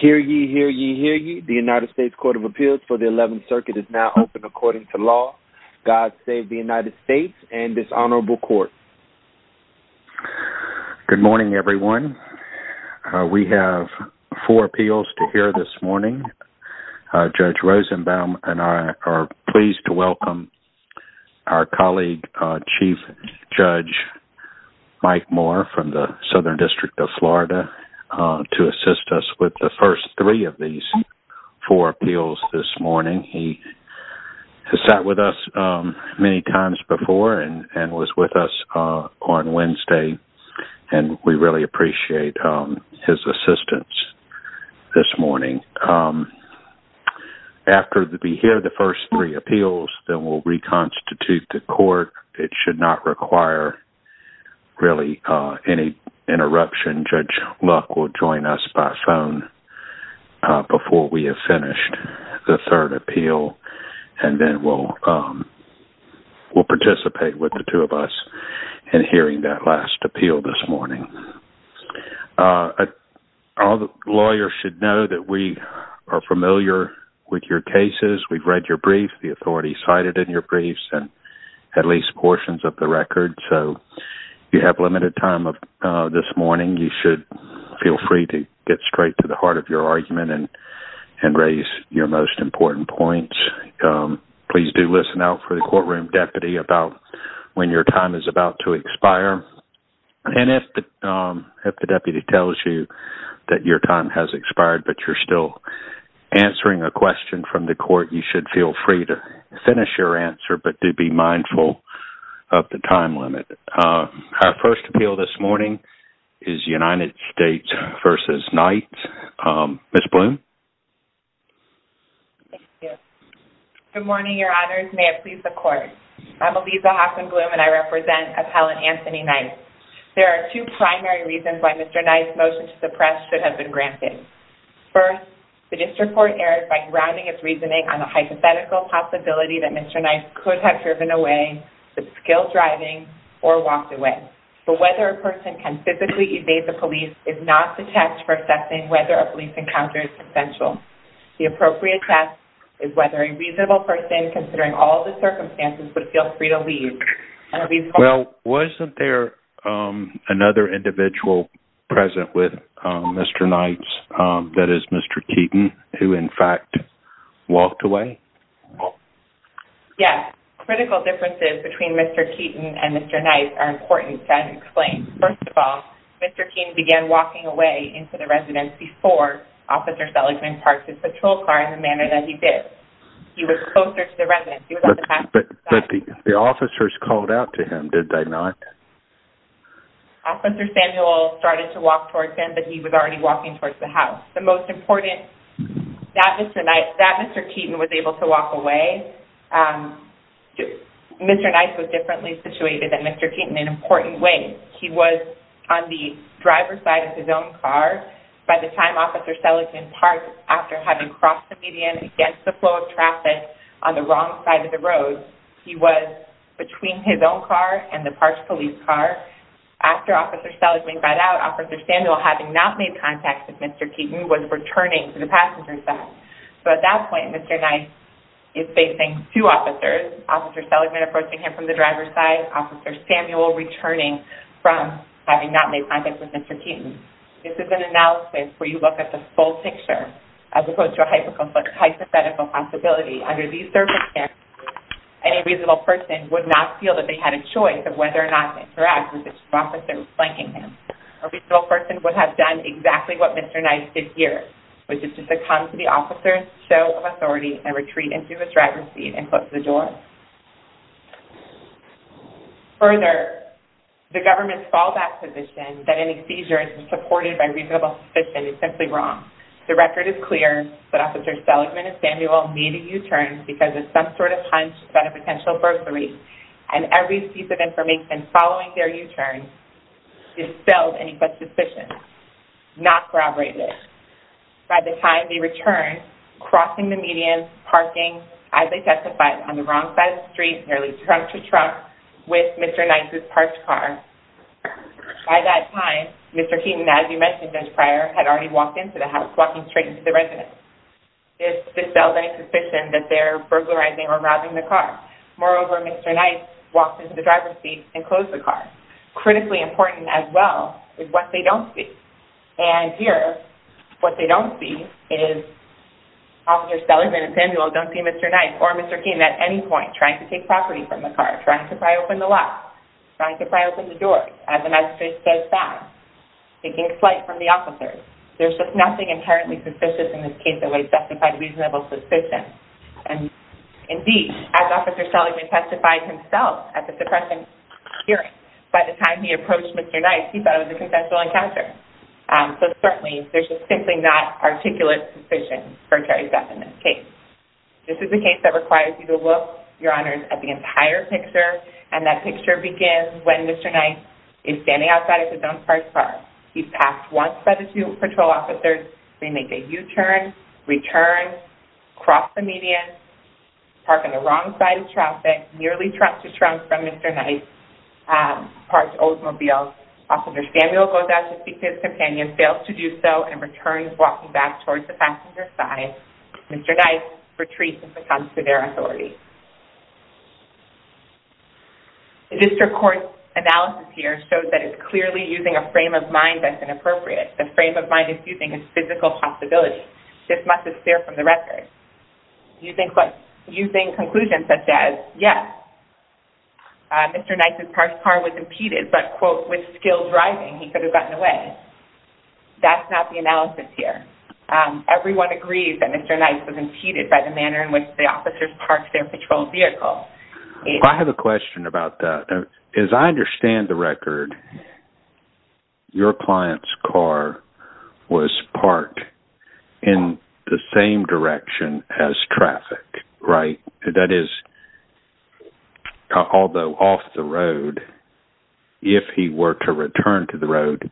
Hear ye, hear ye, hear ye. The United States Court of Appeals for the 11th Circuit is now open according to law. God save the United States and this honorable court. Good morning everyone. We have four appeals to hear this morning. Judge Rosenbaum and I are pleased to welcome our colleague Chief Judge Mike Moore from the Southern District of Florida to assist us with the first three of these four appeals this morning. He sat with us many times before and was with us on Wednesday and we really appreciate his assistance this morning. After we hear the first three appeals, then we'll reconstitute the court. It should not require really any interruption. Judge Luck will join us by phone before we have finished the third appeal and then we'll participate with the two of us in hearing that last appeal this morning. All the lawyers should know that we are familiar with your cases. We've read your brief. The you have limited time this morning. You should feel free to get straight to the heart of your argument and raise your most important points. Please do listen out for the courtroom deputy about when your time is about to expire. And if the deputy tells you that your time has expired but you're still answering a question from the court, you should feel free to finish your answer but do be mindful of the time limit. Our first appeal this morning is United States v. Knight. Ms. Bloom. Good morning, your honors. May it please the court. I'm Aliza Hoffman-Bloom and I represent Appellant Anthony Knight. There are two primary reasons why Mr. Knight's motion to suppress should have been granted. First, the district court erred by grounding its reasoning on the hypothetical possibility that Mr. Knight could have driven away with skilled driving or walked away. So whether a person can physically evade the police is not the test for assessing whether a police encounter is essential. The appropriate test is whether a reasonable person considering all the circumstances would feel free to leave. Well, wasn't there another individual present with Mr. Knight's, that is Mr. Keaton, who in fact walked away? Yes, critical differences between Mr. Keaton and Mr. Knight are important to explain. First of all, Mr. Keaton began walking away into the residence before Officer Seligman parked his patrol car in the manner that he did. He was closer to the residence. But the officers called out to him, did they not? Officer Samuel started to walk towards him, but he was already walking towards the house. The most important, that Mr. Knight, that Mr. Keaton was able to walk away. Mr. Knight was differently situated than Mr. Keaton in an important way. He was on the driver's side of his own car. By the time Officer Seligman parked, after having crossed the median against the flow of traffic on the wrong side of the road, he was between his own car and the park's police car. After Officer Seligman got out, Officer Samuel, having not made contact with Mr. Keaton, was returning to the passenger's side. So at that point, Mr. Knight is facing two officers, Officer Seligman approaching him from the driver's side, Officer Samuel returning from having not made contact with Mr. Keaton. This is an analysis where you look at the full picture as opposed to a hypothetical possibility. Under these circumstances, any reasonable person would not feel that they had a choice of whether or not to interact with this officer flanking him. A reasonable person would have done exactly what Mr. Knight did here, which is to succumb to the officer's show of authority and retreat into the driver's seat and close the door. Further, the government's fallback position that any seizures were supported by reasonable suspicion is simply wrong. The record is clear that Officer Seligman and Samuel need a U-turn because of some sort of hunch about a potential burglary, and every piece of information following their U-turn dispelled any such suspicion, not corroborated. By the time they returned, crossing the median, parking, as they testified, on the wrong side of the street, nearly trunk to trunk with Mr. Knight's parked car. By that time, Mr. Keaton, as you mentioned just prior, had already walked straight into the residence. This dispelled any suspicion that they were burglarizing or robbing the car. Moreover, Mr. Knight walked into the driver's seat and closed the car. Critically important as well is what they don't see. And here, what they don't see is Officer Seligman and Samuel don't see Mr. Knight or Mr. Keaton at any point trying to take property from the car, trying to pry open the lock, trying to pry open the door as the magistrate says fast, taking flight from the car. There's just nothing inherently suspicious in this case that would justify reasonable suspicion. And indeed, as Officer Seligman testified himself at the suppression hearing, by the time he approached Mr. Knight, he thought it was a consensual encounter. So certainly, there's just simply not articulate suspicion for Terry's death in this case. This is a case that requires you to look, Your Honors, at the entire picture, and that picture begins when Mr. Knight is standing outside his own parked car. He's passed once by the student patrol officers. They make a U-turn, return, cross the median, park on the wrong side of traffic, nearly trunk to trunk from Mr. Knight, parked Oldsmobile. Officer Samuel goes out to speak to his companion, fails to do so, and returns walking back towards the passenger side. Mr. Knight retreats and becomes to their of mind that's inappropriate. The frame of mind is using his physical possibility. This must have steered from the record. Using conclusions such as, yes, Mr. Knight's parked car was impeded, but, quote, with skilled driving, he could have gotten away. That's not the analysis here. Everyone agrees that Mr. Knight was impeded by the manner in which the officers parked their patrol vehicle. I have a question about that. As I understand the record, your client's car was parked in the same direction as traffic, right? That is, although off the road, if he were to return to the road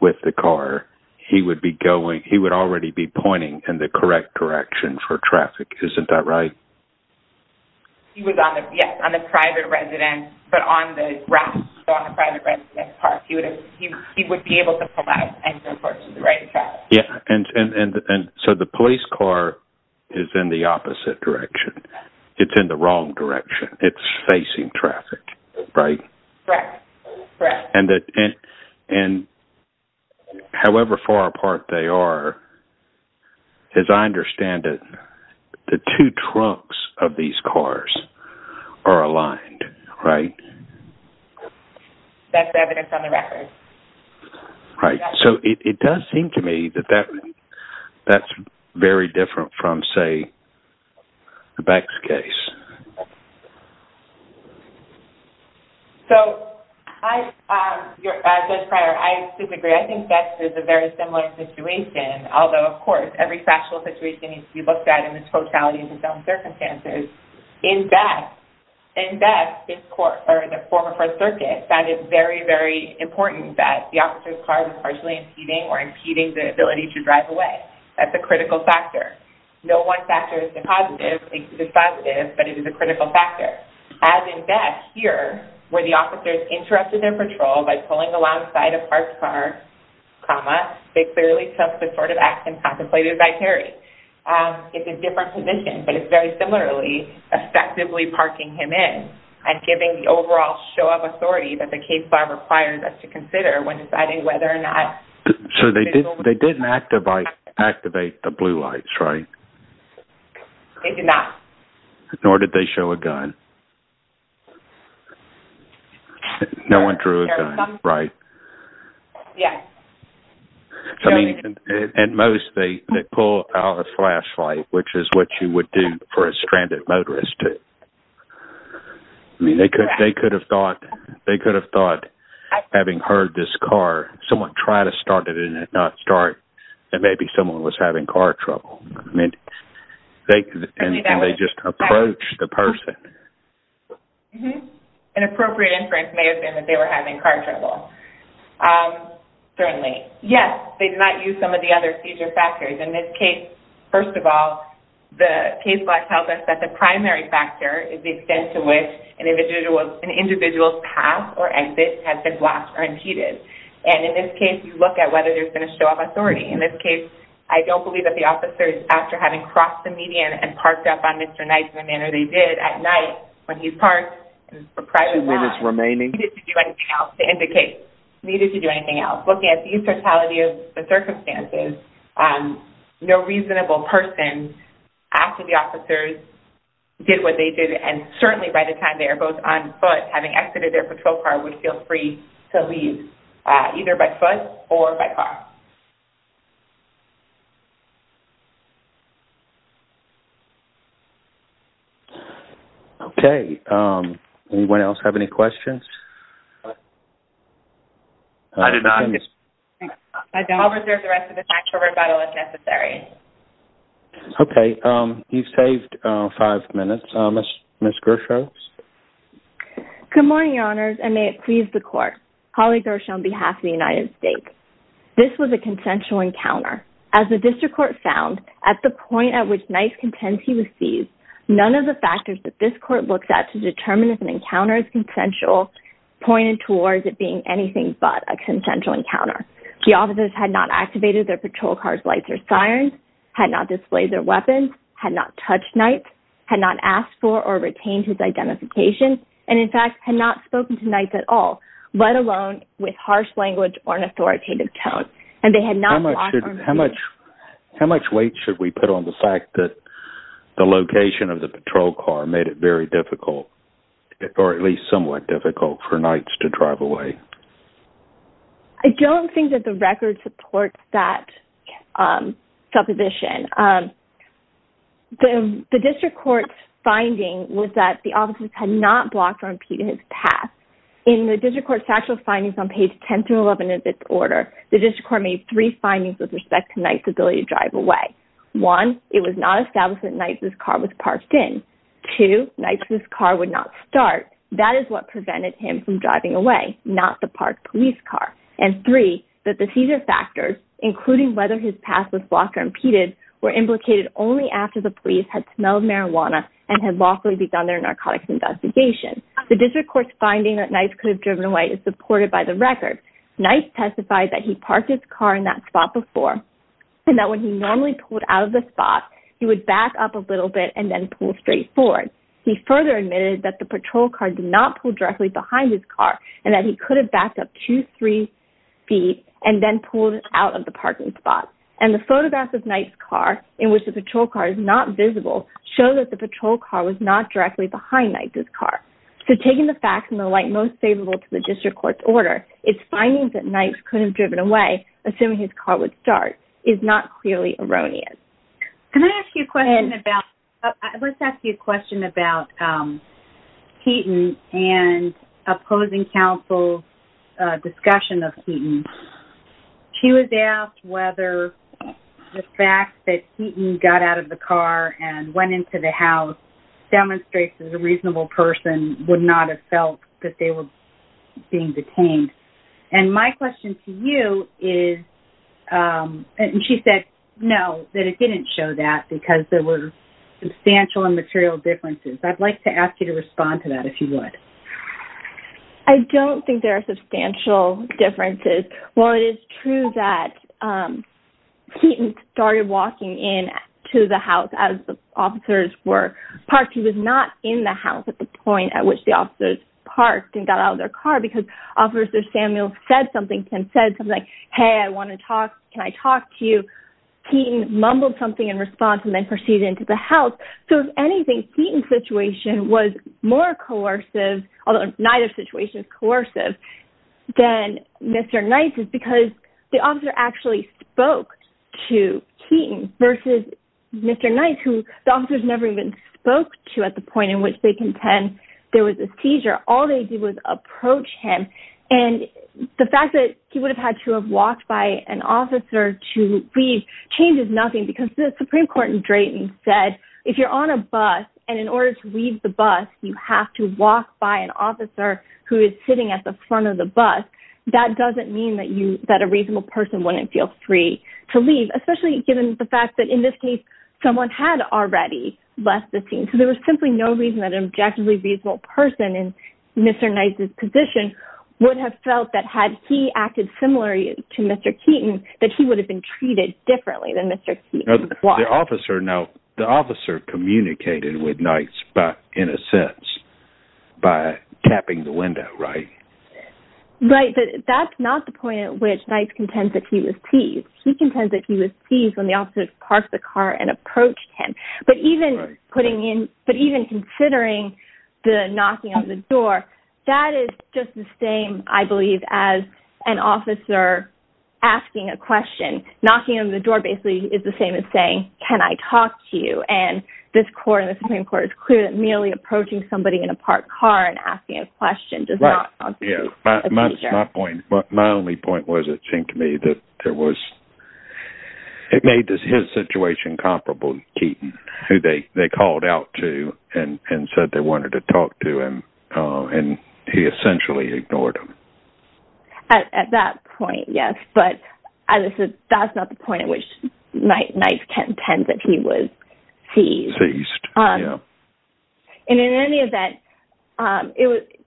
with the car, he would be going, he would already be pointing in the correct direction for traffic. Isn't that right? He was on the, yes, on the private residence, but on the grass, so on the private residence park. He would be able to pull out and go towards the right track. Yeah, and so the police car is in the opposite direction. It's in the wrong direction. It's facing traffic, right? Correct. Correct. And however far apart they are, as I understand it, the two trunks of these cars are aligned, right? That's the evidence on the record. Right. So it does seem to me that that's very different from, say, Beck's case. So, Judge Pryor, I disagree. I think Beck's is a very similar situation, although, of course, every factual situation needs to be looked at in its totality and in its own circumstances. In Beck, in Beck, the former First Circuit found it very, very important that the officer's car was partially impeding or impeding the ability to drive away. That's a critical factor. No one positive, but it is a critical factor. As in Beck, here, where the officer interrupted their patrol by pulling alongside a parked car, they clearly took the sort of action contemplated by Terry. It's a different position, but it's very similarly effectively parking him in and giving the overall show of authority that the case law requires us to consider when deciding whether or not... So they didn't activate the blue lights, right? They did not. Nor did they show a gun. No one drew a gun, right? Yeah. And most, they pull out a flashlight, which is what you would do for a stranded motorist. I mean, they could have thought, having heard this car, someone try to start it and not start, and maybe someone was having car trouble. And they just approached the person. An appropriate inference may have been that they were having car trouble. Certainly. Yes, they did not use some of the other seizure factors. In this case, first of all, the case law tells us that the primary factor is the extent to which an individual's path or exit has been blocked or impeded. And in this case, you look at whether there's been show of authority. In this case, I don't believe that the officers, after having crossed the median and parked up on Mr. Knight in the manner they did at night when he's parked in a private lot... Two minutes remaining. ...needed to do anything else to end the case. Needed to do anything else. Looking at the totality of the circumstances, no reasonable person, after the officers did what they did, and certainly by the time they are both on foot, having exited their patrol car, would feel free to leave, either by foot or by car. Okay. Anyone else have any questions? I did not. I don't. I'll reserve the rest of the time for rebuttal if necessary. Okay. You've saved five minutes. Ms. Gershow? Good morning, Your Honors, and may it please the Court. Holly Gershow on behalf of the United States. This was a consensual encounter. As the District Court found, at the point at which Knight contends he was seized, none of the factors that this Court looks at to determine if an encounter is consensual pointed towards it being anything but a consensual encounter. The officers had not activated their patrol car's lights or sirens, had not displayed their weapons, had not touched Knight, had not asked for or retained his identification, and, in fact, had not spoken to Knight at all, let alone with harsh language or an authoritative tone. How much weight should we put on the fact that the location of the patrol car made it very difficult, or at least somewhat difficult, for Knight to drive away? I don't think that the record supports that supposition. The District Court's findings on page 10 through 11 of its order, the District Court made three findings with respect to Knight's ability to drive away. One, it was not established that Knight's car was parked in. Two, Knight's car would not start. That is what prevented him from driving away, not the parked police car. And three, that the seizure factors, including whether his past was blocked or impeded, were implicated only after the police had smelled marijuana and had lawfully begun their narcotics investigation. The District Court's finding that Knight could have driven away is supported by the record. Knight testified that he parked his car in that spot before and that when he normally pulled out of the spot, he would back up a little bit and then pull straight forward. He further admitted that the patrol car did not pull directly behind his car and that he could have backed up two, three feet and then pulled out of the parking spot. And the photographs of Knight's car, in which the patrol car is not visible, show that the patrol car was not directly behind Knight's car. So taking the facts in the light most favorable to the District Court's order, its findings that Knight could have driven away, assuming his car would start, is not clearly erroneous. Can I ask you a question about, let's ask you a question about Keaton and opposing counsel's discussion of Keaton. She was asked whether the fact that Keaton got out of the car and went into the house demonstrates that a reasonable person would not have felt that they were being detained. And my question to you is, and she said no, that it didn't show that because there were substantial and material differences. I'd like to ask you to respond to that if you would. I don't think there are substantial differences. While it is true that Keaton started walking in to the house as the officers were parked, he was not in the house at the point at which the officers parked and got out of their car because Officer Samuel said something, Tim said something like, hey, I want to talk, can I talk to you? Keaton mumbled something in response and then proceeded into the house. So if anything, Keaton's situation was more coercive, although neither situation is coercive, than Mr. Knight's is because the officer actually spoke to Keaton versus Mr. Knight, who the officers never even spoke to at the point in which they contend there was a seizure. All they did was approach him. And the fact that he would say, if you're on a bus, and in order to leave the bus, you have to walk by an officer who is sitting at the front of the bus, that doesn't mean that a reasonable person wouldn't feel free to leave, especially given the fact that in this case, someone had already left the scene. So there was simply no reason that an objectively reasonable person in Mr. Knight's position would have felt that had he acted similarly to Mr. Keaton, that he would have been treated differently than Mr. Keaton. Now, the officer communicated with Knight's in a sense, by tapping the window, right? Right, but that's not the point at which Knight's contends that he was teased. He contends that he was teased when the officer parked the car and approached him. But even considering the knocking on the door, that is just the same, I believe, as an officer asking a question, knocking on the door basically is the same as saying, can I talk to you? And this court, the Supreme Court is clear that merely approaching somebody in a parked car and asking a question does not constitute a teaser. My only point was, it seemed to me that there was, it made his situation comparable to Keaton, who they called out to and said they wanted to talk to him, and he essentially ignored him. At that point, yes, but as I said, that's not the point at which Knight's contends that he was teased. And in any event,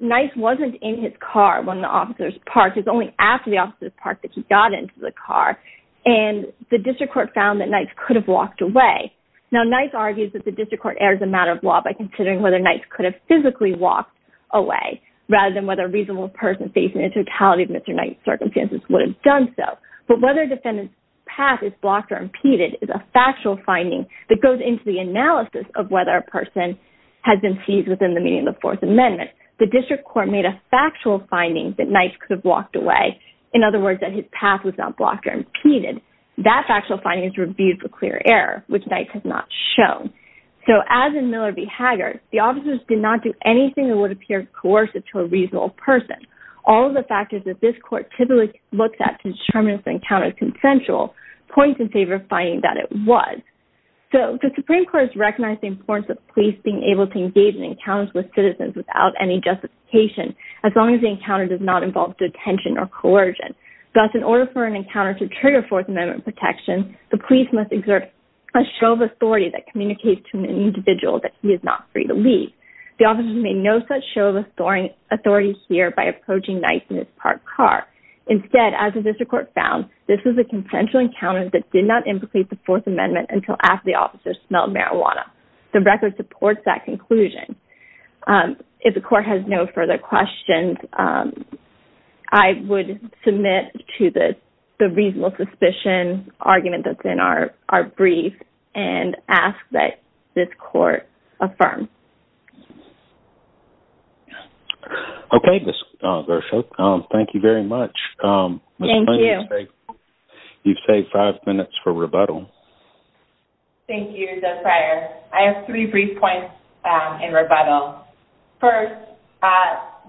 Knight's wasn't in his car when the officers parked, it was only after the officers parked that he got into the car, and the district court found that Knight's could have walked away. Now, Knight's argues that the district court errs a matter of law by considering whether Knight's could have physically walked away rather than whether a reasonable person facing the totality of Mr. Knight's circumstances would have done so. But whether a defendant's path is blocked or impeded is a factual finding that goes into the analysis of whether a person has been teased within the meaning of the Fourth Amendment. The district court made a factual finding that Knight's could have walked away. In other words, that his path was not blocked or impeded. That factual finding is reviewed for clear error, which Knight's has not shown. So as in Miller v. Hager, the officers did not do anything that would appear coercive to a reasonable person. All of the factors that this court typically looks at to determine if the encounter is consensual points in favor of finding that it was. So the Supreme Court has recognized the importance of police being able to engage in encounters with citizens without any justification, as long as the encounter does not involve detention or coercion. Thus, in order for an encounter to trigger Fourth Amendment protection, the police must exert a show of authority that is not free to leave. The officers made no such show of authority here by approaching Knight in his parked car. Instead, as the district court found, this is a consensual encounter that did not implicate the Fourth Amendment until after the officers smelled marijuana. The record supports that conclusion. If the court has no further questions, I would submit to the reasonable suspicion argument that's in our brief and ask that this court affirm. Okay, Ms. Gershok, thank you very much. You've saved five minutes for rebuttal. Thank you, Judge Fryer. I have three brief points in rebuttal. First,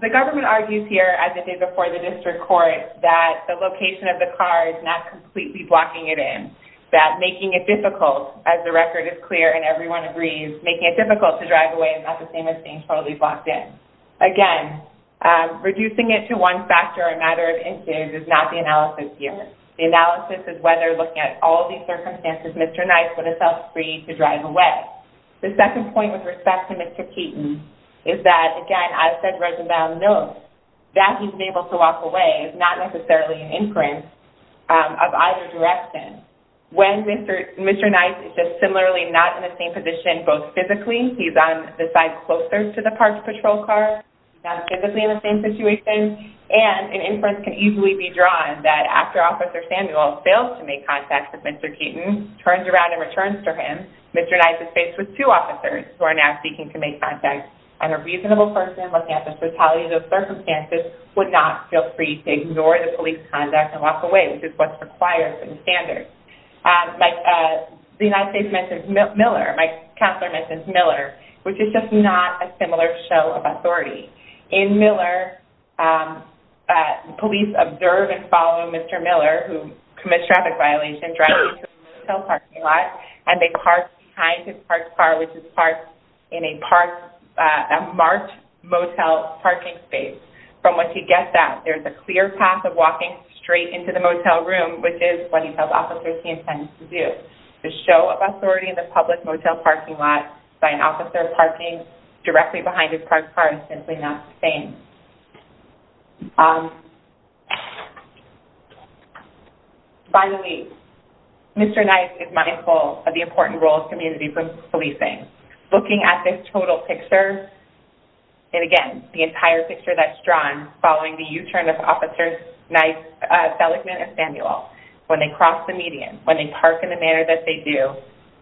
the government argues here, as it did before the district court, that the location of the car is not completely blocking it in, that making it difficult, as the record is clear and everyone agrees, making it difficult to drive away is not the same as being totally blocked in. Again, reducing it to one factor, a matter of inches, is not the analysis here. The analysis is whether, looking at all of these circumstances, Mr. Knight would have felt free to drive away. The second point, with respect to Mr. Keaton, is that, again, as Judge Rosenbaum notes, that he's been able to walk away is not necessarily an inference of either direction. When Mr. Knight is just similarly not in the same position, both physically, he's on the side closer to the parks patrol car, he's not physically in the same situation, and an inference can easily be drawn that after Officer Samuel fails to make contact with Mr. Keaton, turns around and returns to him, Mr. Knight is faced with two officers who are now seeking to make contact, and a reasonable person, looking at the fatalities of the officers, is able to walk away, which is what's required in standards. The United States mentions Miller, my counselor mentions Miller, which is just not a similar show of authority. In Miller, police observe and follow Mr. Miller, who commits traffic violation, driving to a motel parking lot, and they park behind his parked car, which is parked in a marked motel parking space. From what he gets at, there's a clear path of walking straight into the motel room, which is what he tells officers he intends to do. The show of authority in the public motel parking lot by an officer parking directly behind his parked car is simply not the same. By the way, Mr. Knight is mindful of the important role of community policing. Looking at this total picture, and again, the entire picture that's drawn following the u-turn of officers Seligman and Samuel, when they cross the median, when they park in the manner that they do,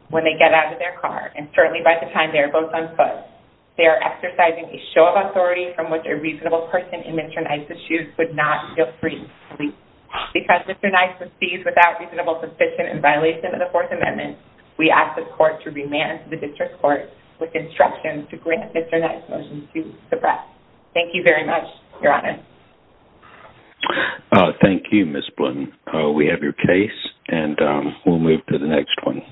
when they get out of their car, and certainly by the time they are both on foot, they are exercising a show of authority from which a reasonable person in Mr. Knight's shoes could not feel free to sleep. Because Mr. Knight proceeds without reasonable suspicion in violation of the Fourth Amendment, we ask the court to remand the district court with instructions to grant Mr. Knight's motion to suppress. Thank you very much, Your Honor. Thank you, Ms. Blunton. We have your case, and we'll move to the next one.